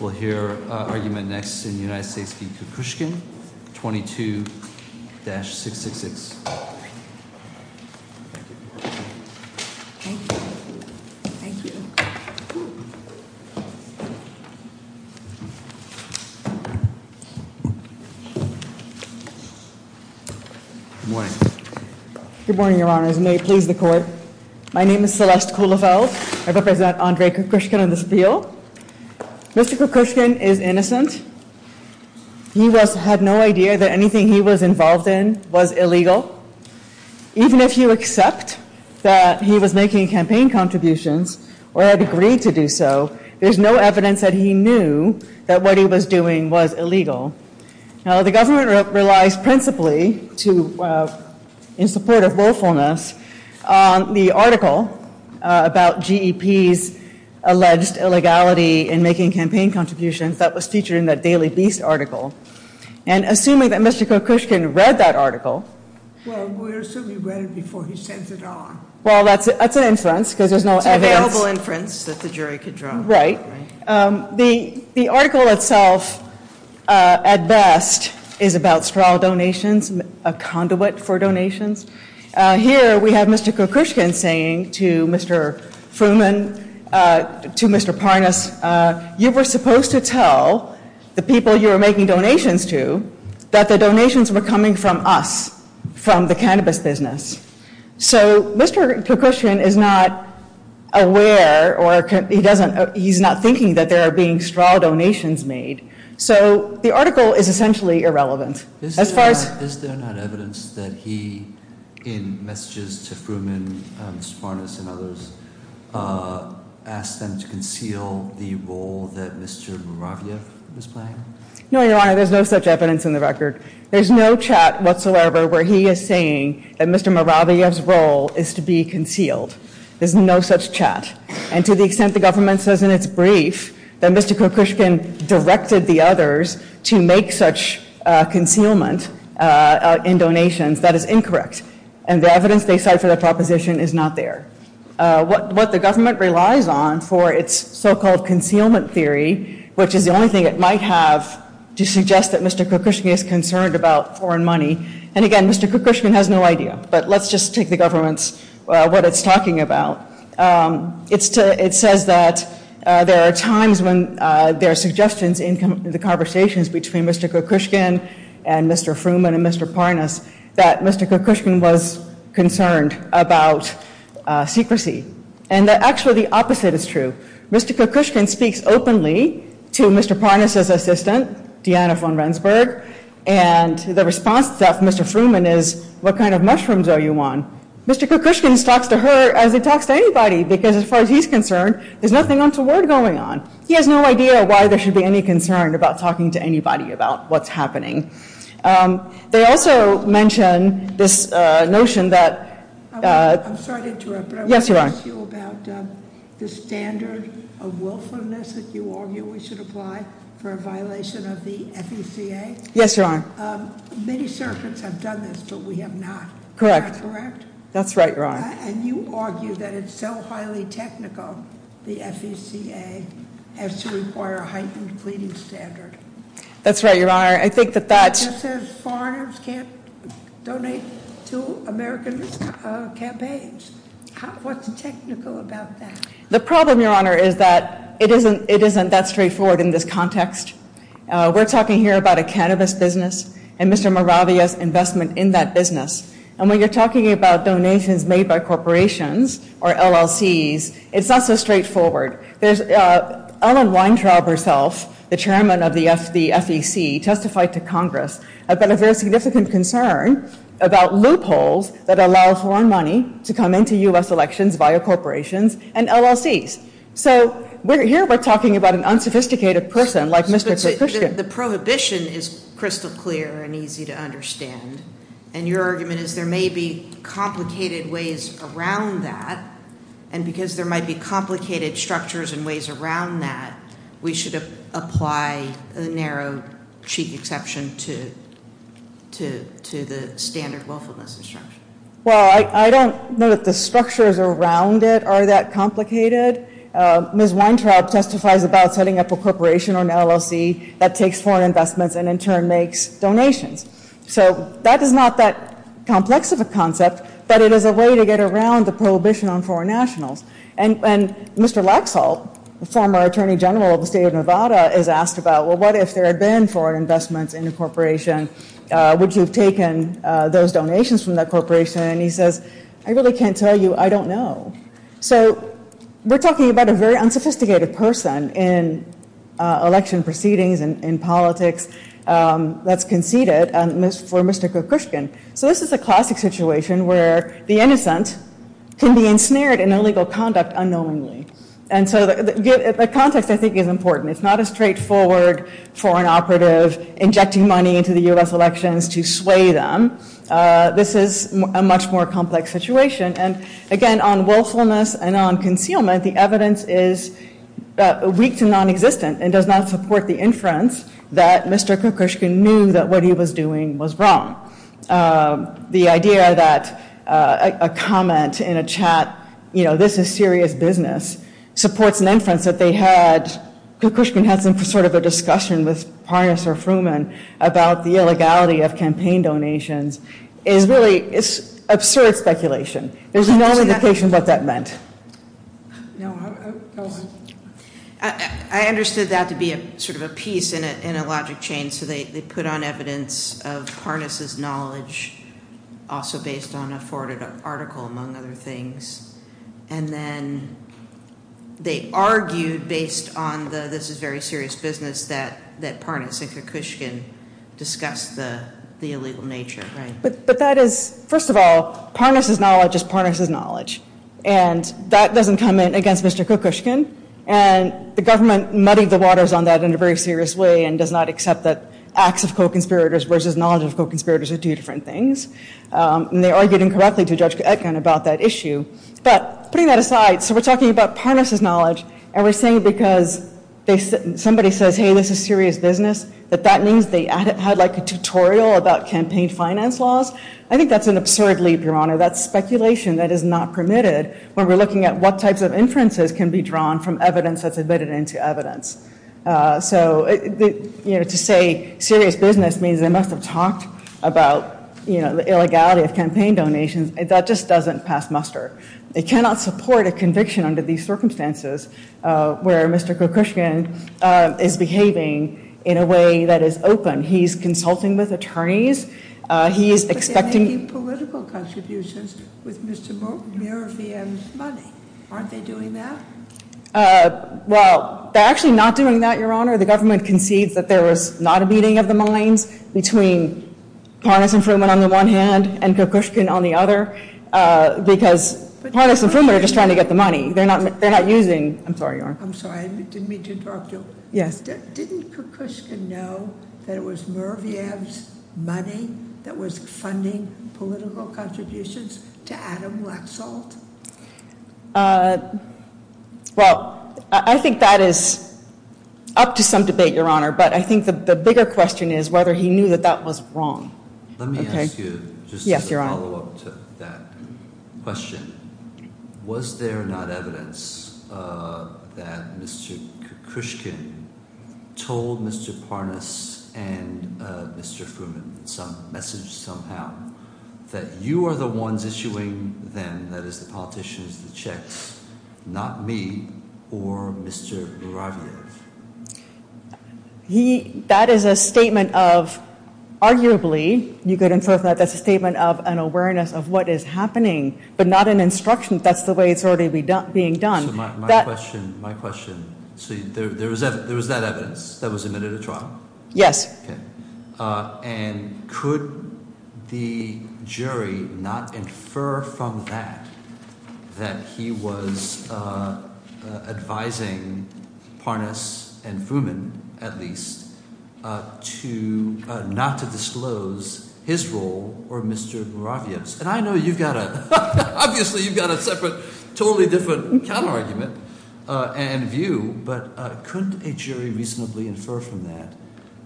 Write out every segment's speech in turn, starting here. We'll hear argument next in the United States v. Kokushkin, 22-666. Thank you. Good morning. Good morning, your honors. May it please the court. My name is Celeste Kuhlefeld. I represent Andre Kokushkin on this appeal. Mr. Kokushkin is innocent. He had no idea that anything he was involved in was illegal. Even if you accept that he was making campaign contributions or had agreed to do so, there's no evidence that he knew that what he was doing was illegal. Now, the government relies principally to, in support of willfulness, the article about GEP's alleged illegality in making campaign contributions that was featured in the Daily Beast article. And assuming that Mr. Kokushkin read that article. Well, we assume he read it before he sent it on. Well, that's an inference because there's no evidence. It's an available inference that the jury could draw. The article itself, at best, is about straw donations, a conduit for donations. Here we have Mr. Kokushkin saying to Mr. Fruman, to Mr. Parness, you were supposed to tell the people you were making donations to that the donations were coming from us, from the cannabis business. So Mr. Kokushkin is not aware or he's not thinking that there are being straw donations made. So the article is essentially irrelevant. Is there not evidence that he, in messages to Fruman, Parness and others, asked them to conceal the role that Mr. Moraviev was playing? No, Your Honor, there's no such evidence in the record. There's no chat whatsoever where he is saying that Mr. Moraviev's role is to be concealed. There's no such chat. And to the extent the government says in its brief that Mr. Kokushkin directed the others to make such concealment in donations, that is incorrect. And the evidence they cite for the proposition is not there. What the government relies on for its so-called concealment theory, which is the only thing it might have to suggest that Mr. Kokushkin is concerned about foreign money. And again, Mr. Kokushkin has no idea. But let's just take the government's, what it's talking about. It says that there are times when there are suggestions in the conversations between Mr. Kokushkin and Mr. Fruman and Mr. Parness that Mr. Kokushkin was concerned about secrecy. And actually the opposite is true. Mr. Kokushkin speaks openly to Mr. Parness' assistant, Deanna von Rendsburg, and the response to that of Mr. Fruman is, what kind of mushrooms are you on? Mr. Kokushkin talks to her as he talks to anybody, because as far as he's concerned, there's nothing untoward going on. He has no idea why there should be any concern about talking to anybody about what's happening. They also mention this notion that- that you argue we should apply for a violation of the FECA. Yes, Your Honor. Many circuits have done this, but we have not. Correct. Is that correct? That's right, Your Honor. And you argue that it's so highly technical, the FECA, as to require a heightened pleading standard. That's right, Your Honor. I think that that- It says foreigners can't donate to American campaigns. What's technical about that? The problem, Your Honor, is that it isn't that straightforward in this context. We're talking here about a cannabis business and Mr. Moravia's investment in that business. And when you're talking about donations made by corporations or LLCs, it's not so straightforward. Ellen Weintraub herself, the chairman of the FEC, testified to Congress about a very significant concern about loopholes that allow foreign money to come into U.S. elections via corporations and LLCs. So here we're talking about an unsophisticated person like Mr. Krishnan. The prohibition is crystal clear and easy to understand. And your argument is there may be complicated ways around that. And because there might be complicated structures and ways around that, we should apply a narrow cheap exception to the standard willfulness instruction. Well, I don't know that the structures around it are that complicated. Ms. Weintraub testifies about setting up a corporation or an LLC that takes foreign investments and in turn makes donations. So that is not that complex of a concept, but it is a way to get around the prohibition on foreign nationals. And Mr. Laxalt, the former attorney general of the state of Nevada, is asked about, well, what if there had been foreign investments in a corporation? Would you have taken those donations from that corporation? And he says, I really can't tell you. I don't know. So we're talking about a very unsophisticated person in election proceedings and in politics that's conceded for Mr. Krishnan. So this is a classic situation where the innocent can be ensnared in illegal conduct unknowingly. And so the context I think is important. It's not a straightforward foreign operative injecting money into the U.S. elections to sway them. This is a much more complex situation. And again, on willfulness and on concealment, the evidence is weak to non-existent and does not support the inference that Mr. Krishnan knew that what he was doing was wrong. The idea that a comment in a chat, you know, this is serious business, supports an inference that they had, that Krishnan had some sort of a discussion with Parnas or Fruman about the illegality of campaign donations, is really, it's absurd speculation. There's no indication what that meant. No, go on. I understood that to be sort of a piece in a logic chain. So they put on evidence of Parnas' knowledge also based on a forwarded article among other things. And then they argued based on the this is very serious business that Parnas and Krishnan discussed the illegal nature, right? But that is, first of all, Parnas' knowledge is Parnas' knowledge. And that doesn't come in against Mr. Kokushkin. And the government muddied the waters on that in a very serious way and does not accept that acts of co-conspirators versus knowledge of co-conspirators are two different things. And they argued incorrectly to Judge Etkin about that issue. But putting that aside, so we're talking about Parnas' knowledge, and we're saying because somebody says, hey, this is serious business, that that means they had like a tutorial about campaign finance laws. I think that's an absurd leap, Your Honor. That's speculation that is not permitted when we're looking at what types of inferences can be drawn from evidence that's admitted into evidence. So, you know, to say serious business means they must have talked about, you know, the illegality of campaign donations. That just doesn't pass muster. They cannot support a conviction under these circumstances where Mr. Kokushkin is behaving in a way that is open. He's consulting with attorneys. He is expecting- But they're making political contributions with Mr. Muravyan's money. Aren't they doing that? Well, they're actually not doing that, Your Honor. The government concedes that there was not a meeting of the minds between Parnas and Fruman on the one hand and Kokushkin on the other because Parnas and Fruman are just trying to get the money. They're not using- I'm sorry, Your Honor. I'm sorry. I didn't mean to interrupt you. Yes. Didn't Kokushkin know that it was Muravyan's money that was funding political contributions to Adam Laxalt? Well, I think that is up to some debate, Your Honor, but I think the bigger question is whether he knew that that was wrong. Let me ask you- Yes, Your Honor. I have a follow-up to that question. Was there not evidence that Mr. Kokushkin told Mr. Parnas and Mr. Fruman some message somehow that you are the ones issuing them, that is the politicians, the checks, not me or Mr. Muravyan? That is a statement of, arguably, you could infer that that's a statement of an awareness of what is happening, but not an instruction. That's the way it's already being done. My question, my question. So there was that evidence that was admitted to trial? Yes. And could the jury not infer from that that he was advising Parnas and Fruman, at least, not to disclose his role or Mr. Muravyan's? And I know you've got a- Obviously, you've got a separate, totally different counter-argument and view. But could a jury reasonably infer from that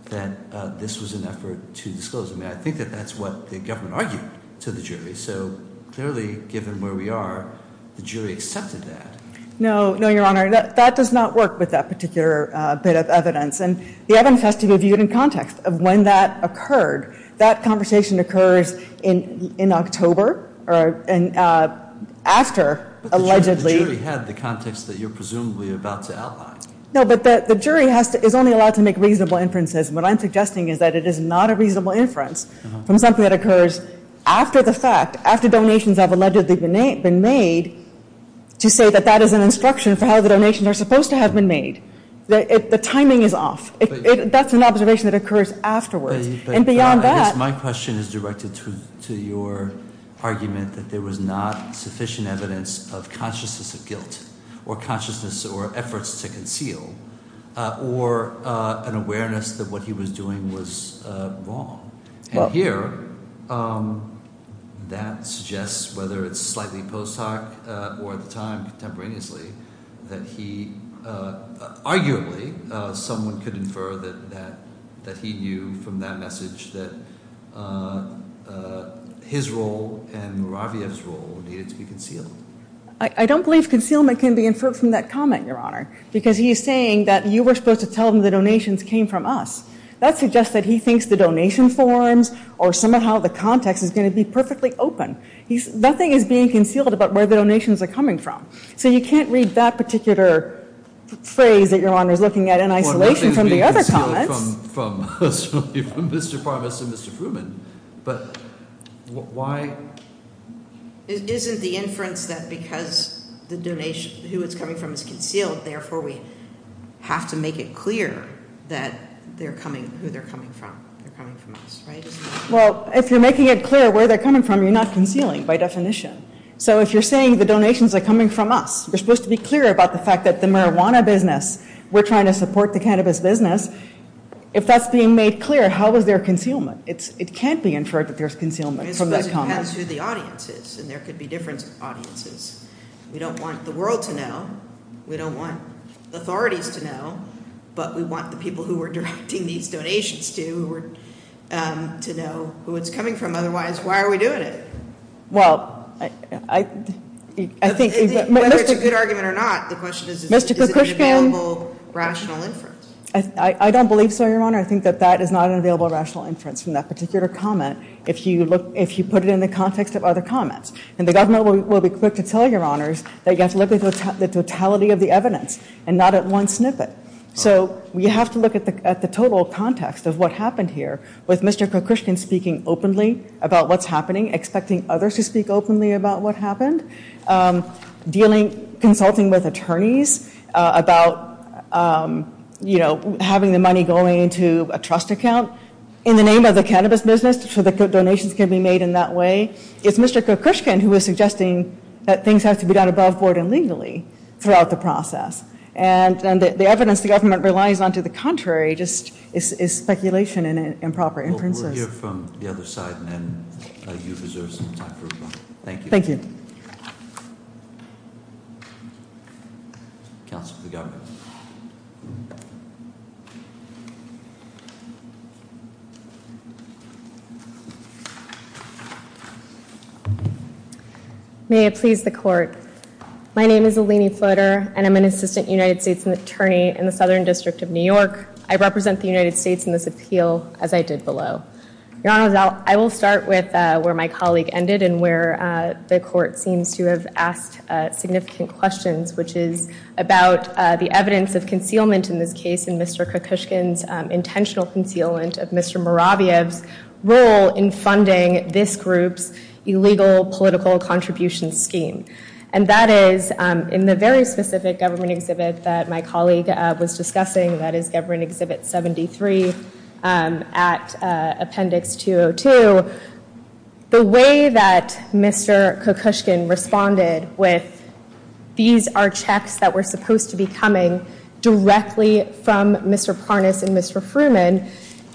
that this was an effort to disclose? I mean, I think that that's what the government argued to the jury. So clearly, given where we are, the jury accepted that. No, no, Your Honor. That does not work with that particular bit of evidence. And the evidence has to be viewed in context of when that occurred. That conversation occurs in October, after allegedly- But the jury had the context that you're presumably about to outline. No, but the jury is only allowed to make reasonable inferences. What I'm suggesting is that it is not a reasonable inference from something that occurs after the fact, after donations have allegedly been made, to say that that is an instruction for how the donations are supposed to have been made. The timing is off. That's an observation that occurs afterwards. And beyond that- I guess my question is directed to your argument that there was not sufficient evidence of consciousness of guilt, or consciousness or efforts to conceal, or an awareness that what he was doing was wrong. And here, that suggests, whether it's slightly post hoc or at the time contemporaneously, that he arguably, someone could infer that he knew from that message that his role and Muraviev's role needed to be concealed. I don't believe concealment can be inferred from that comment, Your Honor, because he is saying that you were supposed to tell him the donations came from us. That suggests that he thinks the donation forms or somehow the context is going to be perfectly open. Nothing is being concealed about where the donations are coming from. So you can't read that particular phrase that Your Honor is looking at in isolation from the other comments. Well, nothing is being concealed from Mr. Parmas and Mr. Fruman, but why- Isn't the inference that because the donation, who it's coming from, is concealed, therefore we have to make it clear that they're coming, who they're coming from. They're coming from us, right? Well, if you're making it clear where they're coming from, you're not concealing by definition. So if you're saying the donations are coming from us, you're supposed to be clear about the fact that the marijuana business, we're trying to support the cannabis business. If that's being made clear, how is there concealment? It can't be inferred that there's concealment from that comment. I suppose it depends who the audience is, and there could be different audiences. We don't want the world to know. We don't want authorities to know, but we want the people who we're directing these donations to, to know who it's coming from. Otherwise, why are we doing it? Well, I think- Whether it's a good argument or not, the question is, is it an available rational inference? I don't believe so, Your Honor. I think that that is not an available rational inference from that particular comment, if you put it in the context of other comments. And the government will be quick to tell you, Your Honors, that you have to look at the totality of the evidence and not at one snippet. So we have to look at the total context of what happened here, with Mr. Kokushkin speaking openly about what's happening, expecting others to speak openly about what happened, dealing, consulting with attorneys about, you know, having the money going into a trust account in the name of the cannabis business so that donations can be made in that way. It's Mr. Kokushkin who is suggesting that things have to be done above board and legally throughout the process. And the evidence the government relies on to the contrary just is speculation and improper inferences. We'll hear from the other side, and then you deserve some time for rebuttal. Thank you. Thank you. Thank you. Counsel to the government. May it please the court. My name is Eleni Flutter, and I'm an assistant United States attorney in the Southern District of New York. I represent the United States in this appeal, as I did below. I will start with where my colleague ended and where the court seems to have asked significant questions, which is about the evidence of concealment in this case, and Mr. Kokushkin's intentional concealment of Mr. Moraviev's role in funding this group's illegal political contribution scheme. And that is in the very specific government exhibit that my colleague was discussing, that is government exhibit 73 at appendix 202. The way that Mr. Kokushkin responded with, these are checks that were supposed to be coming directly from Mr. Parnas and Mr. Fruman,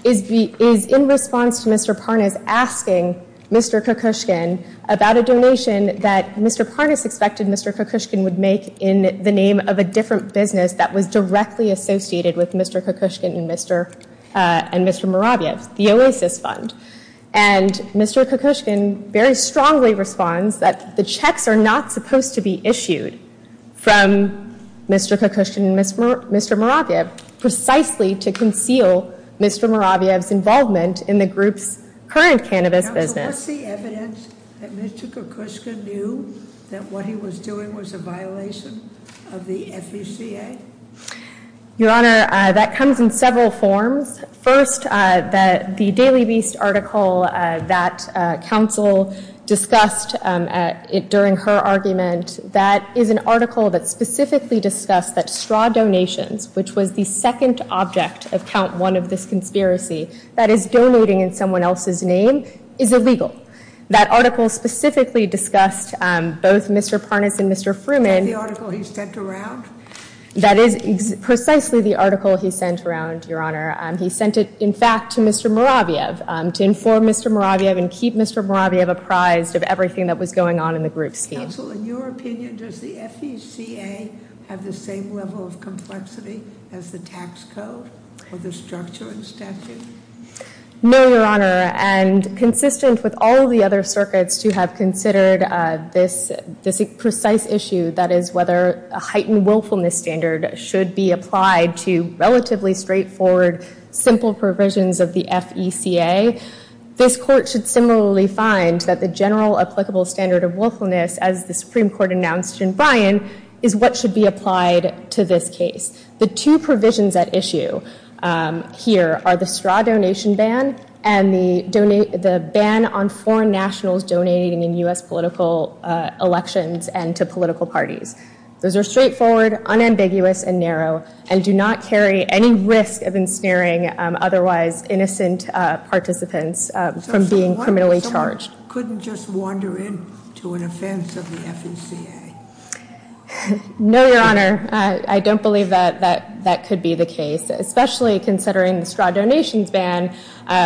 is in response to Mr. Parnas asking Mr. Kokushkin about a donation that Mr. Parnas expected Mr. Kokushkin would make in the name of a different business that was directly associated with Mr. Kokushkin and Mr. Moraviev, the Oasis Fund. And Mr. Kokushkin very strongly responds that the checks are not supposed to be issued from Mr. Kokushkin and Mr. Moraviev, precisely to conceal Mr. Moraviev's involvement in the group's current cannabis business. Was the evidence that Mr. Kokushkin knew that what he was doing was a violation of the FECA? Your Honor, that comes in several forms. First, the Daily Beast article that counsel discussed during her argument, that is an article that specifically discussed that straw donations, which was the second object of count one of this conspiracy, that is donating in someone else's name, is illegal. That article specifically discussed both Mr. Parnas and Mr. Fruman. Is that the article he sent around? That is precisely the article he sent around, Your Honor. He sent it, in fact, to Mr. Moraviev, to inform Mr. Moraviev and keep Mr. Moraviev apprised of everything that was going on in the group scheme. Counsel, in your opinion, does the FECA have the same level of complexity as the tax code or the structure and statute? No, Your Honor, and consistent with all the other circuits to have considered this precise issue, that is whether a heightened willfulness standard should be applied to relatively straightforward, simple provisions of the FECA, this court should similarly find that the general applicable standard of willfulness, as the Supreme Court announced in Bryan, is what should be applied to this case. The two provisions at issue here are the straw donation ban and the ban on foreign nationals donating in U.S. political elections and to political parties. Those are straightforward, unambiguous, and narrow, and do not carry any risk of ensnaring otherwise innocent participants from being criminally charged. Couldn't just wander in to an offense of the FECA? No, Your Honor, I don't believe that that could be the case, especially considering the straw donations ban,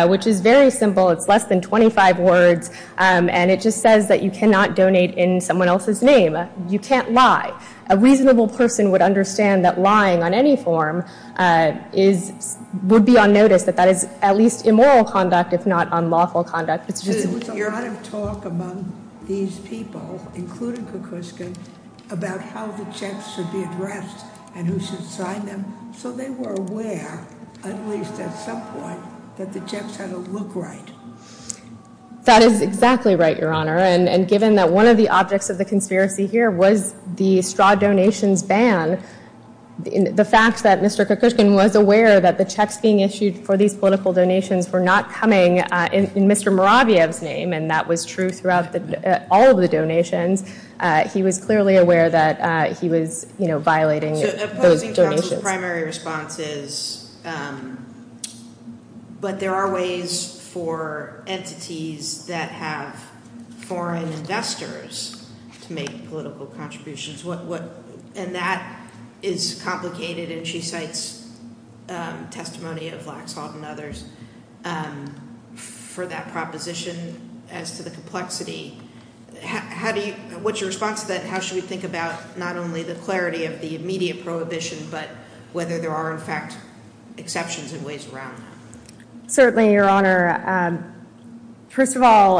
which is very simple. It's less than 25 words, and it just says that you cannot donate in someone else's name. You can't lie. A reasonable person would understand that lying on any form would be on notice, that that is at least immoral conduct, if not unlawful conduct. There was a lot of talk among these people, including Kukuska, about how the checks should be addressed and who should sign them, so they were aware, at least at some point, that the checks had to look right. That is exactly right, Your Honor, and given that one of the objects of the conspiracy here was the straw donations ban, the fact that Mr. Kukuska was aware that the checks being issued for these political donations were not coming in Mr. Muravyev's name, and that was true throughout all of the donations, he was clearly aware that he was violating those donations. So opposing counsel's primary response is, but there are ways for entities that have foreign investors to make political contributions, and that is complicated, and she cites testimony of Laxalt and others for that proposition as to the complexity. What's your response to that? How should we think about not only the clarity of the immediate prohibition, but whether there are, in fact, exceptions in ways around that? Certainly, Your Honor. First of all,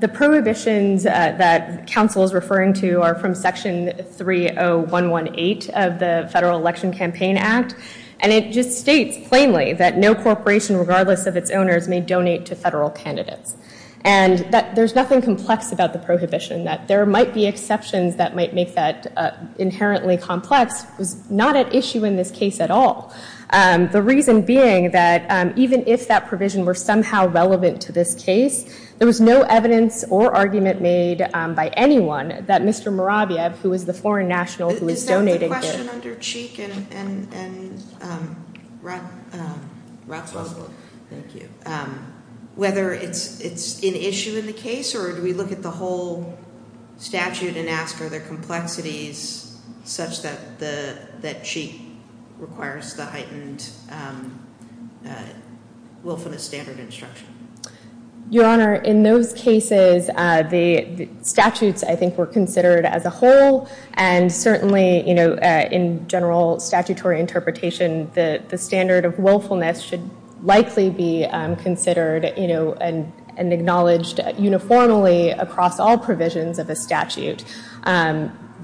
the prohibitions that counsel is referring to are from Section 30118 of the Federal Election Campaign Act, and it just states plainly that no corporation, regardless of its owners, may donate to federal candidates. And that there's nothing complex about the prohibition, that there might be exceptions that might make that inherently complex, was not at issue in this case at all. The reason being that even if that provision were somehow relevant to this case, there was no evidence or argument made by anyone that Mr. Muravyev, who was the foreign national who was donating it. I have a question under Cheek and Ratzlaff. Thank you. Whether it's an issue in the case, or do we look at the whole statute and ask, are there complexities such that Cheek requires the heightened wolf in the standard instruction? Your Honor, in those cases, the statutes, I think, were considered as a whole. And certainly, in general statutory interpretation, the standard of willfulness should likely be considered and acknowledged uniformly across all provisions of a statute.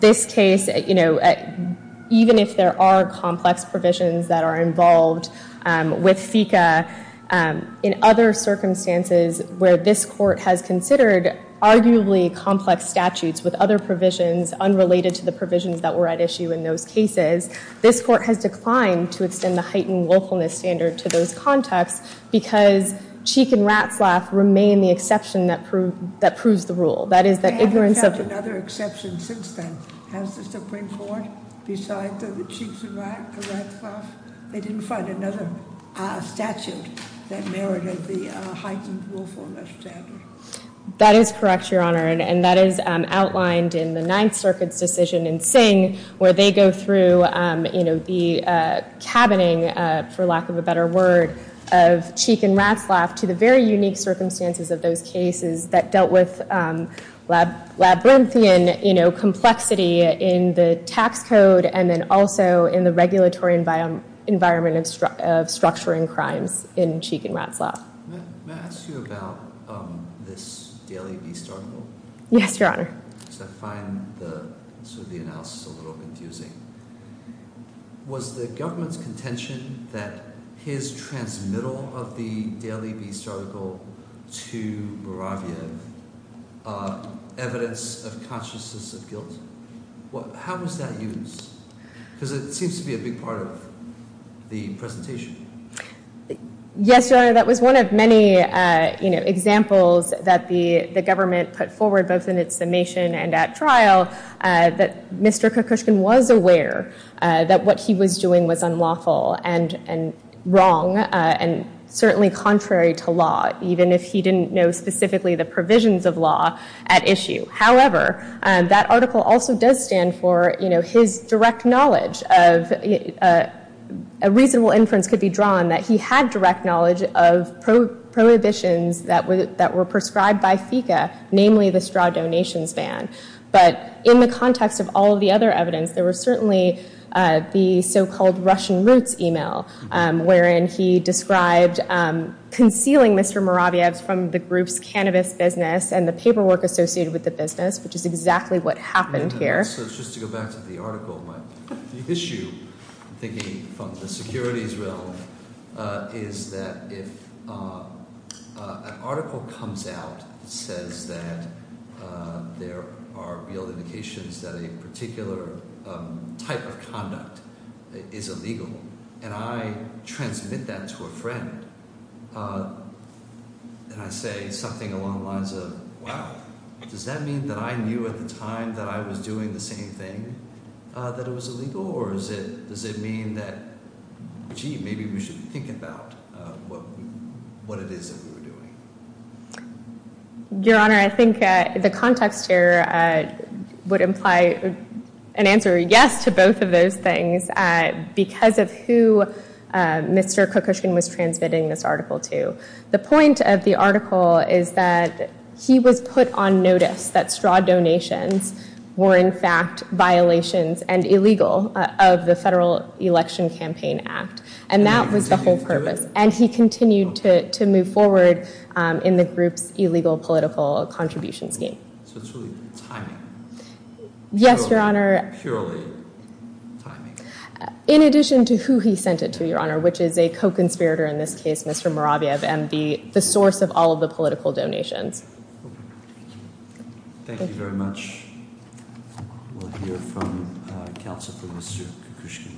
This case, even if there are complex provisions that are involved with FECA, in other circumstances where this court has considered arguably complex statutes with other provisions unrelated to the provisions that were at issue in those cases, this court has declined to extend the heightened willfulness standard to those contexts because Cheek and Ratzlaff remain the exception that proves the rule. They haven't had another exception since then. Has the Supreme Court, besides the Cheeks and Ratzlaff, they didn't find another statute that merited the heightened willfulness standard? That is correct, Your Honor, and that is outlined in the Ninth Circuit's decision in Singh, where they go through the cabining, for lack of a better word, of Cheek and Ratzlaff to the very unique circumstances of those cases that dealt with Labyrinthian complexity in the tax code and then also in the regulatory environment of structuring crimes in Cheek and Ratzlaff. May I ask you about this Daily Beast article? Yes, Your Honor. Because I find the analysis a little confusing. Was the government's contention that his transmittal of the Daily Beast article to Borovyev evidence of consciousness of guilt? How was that used? Because it seems to be a big part of the presentation. Yes, Your Honor, that was one of many examples that the government put forward both in its summation and at trial that Mr. Kokushkin was aware that what he was doing was unlawful and wrong and certainly contrary to law, even if he didn't know specifically the provisions of law at issue. However, that article also does stand for his direct knowledge of a reasonable inference could be drawn that he had direct knowledge of prohibitions that were prescribed by FECA, namely the straw donations ban. But in the context of all of the other evidence, there was certainly the so-called Russian roots email, wherein he described concealing Mr. Moraviev from the group's cannabis business and the paperwork associated with the business, which is exactly what happened here. So just to go back to the article, the issue, thinking from the securities realm, is that if an article comes out that says that there are real indications that a particular type of conduct is illegal and I transmit that to a friend and I say something along the lines of, wow, does that mean that I knew at the time that I was doing the same thing that it was illegal? Or does it mean that, gee, maybe we should think about what it is that we were doing? Your Honor, I think the context here would imply an answer yes to both of those things because of who Mr. Kokushkin was transmitting this article to. The point of the article is that he was put on notice that straw donations were in fact violations and illegal of the Federal Election Campaign Act, and that was the whole purpose. And he continued to move forward in the group's illegal political contribution scheme. So it's really timing. Yes, Your Honor. Purely timing. In addition to who he sent it to, Your Honor, which is a co-conspirator in this case, Mr. Moraviev, and the source of all of the political donations. Thank you very much. We'll hear from counsel for Mr. Kokushkin.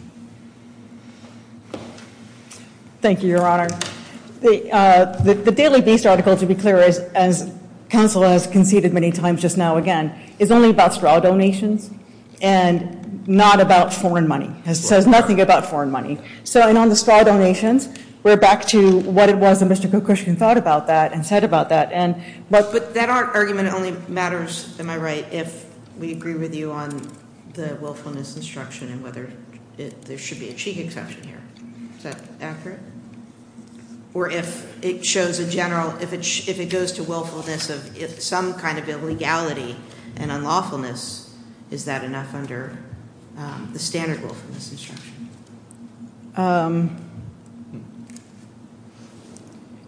Thank you, Your Honor. The Daily Beast article, to be clear, as counsel has conceded many times just now again, is only about straw donations and not about foreign money. It says nothing about foreign money. So on the straw donations, we're back to what it was that Mr. Kokushkin thought about that and said about that. But that argument only matters, am I right, if we agree with you on the willfulness instruction and whether there should be a cheek exception here. Is that accurate? Or if it shows a general, if it goes to willfulness of some kind of illegality and unlawfulness, is that enough under the standard willfulness instruction?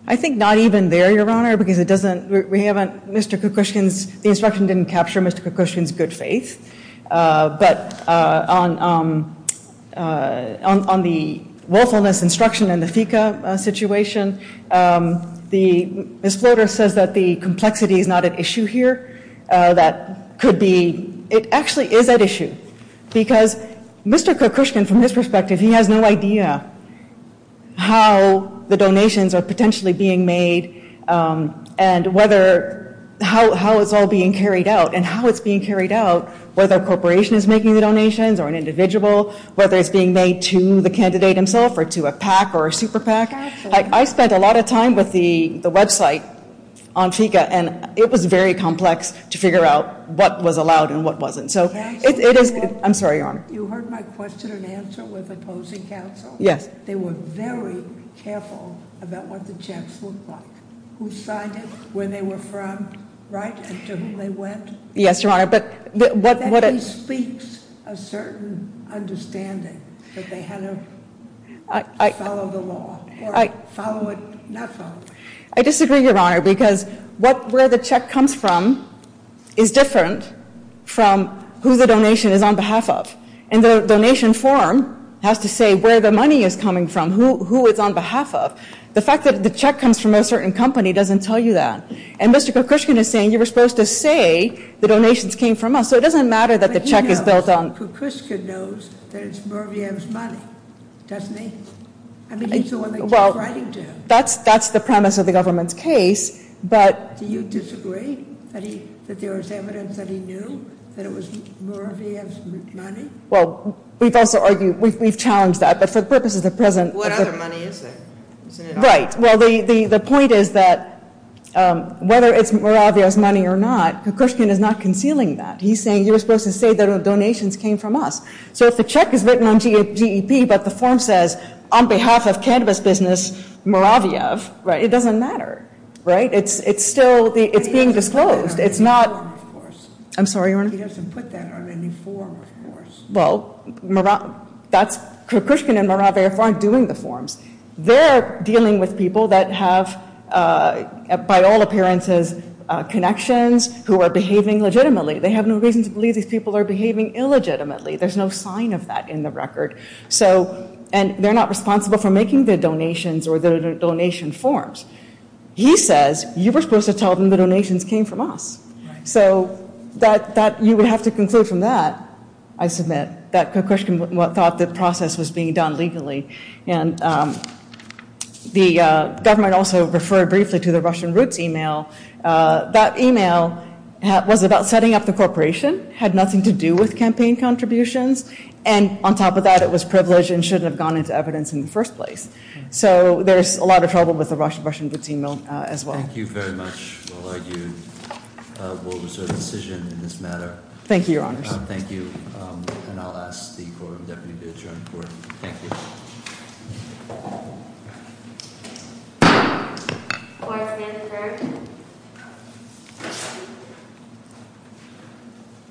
I think not even there, Your Honor, because it doesn't, we haven't, Mr. Kokushkin's, the instruction didn't capture Mr. Kokushkin's good faith. But on the willfulness instruction and the FECA situation, Ms. Floater says that the complexity is not at issue here. That could be, it actually is at issue because Mr. Kokushkin, from his perspective, he has no idea how the donations are potentially being made and whether, how it's all being carried out and how it's being carried out, whether a corporation is making the donations or an individual, whether it's being made to the candidate himself or to a PAC or a super PAC. Absolutely. I spent a lot of time with the website on FECA, and it was very complex to figure out what was allowed and what wasn't. So it is, I'm sorry, Your Honor. You heard my question and answer with opposing counsel? Yes. They were very careful about what the checks looked like, who signed it, where they were from, right, and to whom they went. Yes, Your Honor. And that bespeaks a certain understanding that they had to follow the law, or follow it, not follow it. I disagree, Your Honor, because where the check comes from is different from who the donation is on behalf of. And the donation form has to say where the money is coming from, who it's on behalf of. The fact that the check comes from a certain company doesn't tell you that. And Mr. Kokushkin is saying, you were supposed to say the donations came from us, so it doesn't matter that the check is built on. But he knows, Kokushkin knows, that it's Muraviyam's money, doesn't he? I mean, he's the one that keeps writing to him. Well, that's the premise of the government's case, but. Do you disagree that there was evidence that he knew that it was Muraviyam's money? Well, we've also argued, we've challenged that. But for the purposes of present. What other money is it? Right. Well, the point is that whether it's Muraviyam's money or not, Kokushkin is not concealing that. He's saying, you were supposed to say the donations came from us. So if the check is written on GEP, but the form says, on behalf of cannabis business, Muraviyam, it doesn't matter. It's still being disclosed. It's not. I'm sorry, Your Honor. He doesn't put that on any form, of course. Well, that's, Kokushkin and Muraviyam aren't doing the forms. They're dealing with people that have, by all appearances, connections, who are behaving legitimately. They have no reason to believe these people are behaving illegitimately. There's no sign of that in the record. So, and they're not responsible for making the donations or the donation forms. He says, you were supposed to tell them the donations came from us. So that, you would have to conclude from that, I submit, that Kokushkin thought the process was being done legally. And the government also referred briefly to the Russian Roots email. That email was about setting up the corporation, had nothing to do with campaign contributions. And on top of that, it was privileged and shouldn't have gone into evidence in the first place. Thank you very much. We'll reserve a decision in this matter. Thank you, Your Honors. Thank you. And I'll ask the Quorum Deputy to adjourn the Court. Thank you. Court is adjourned.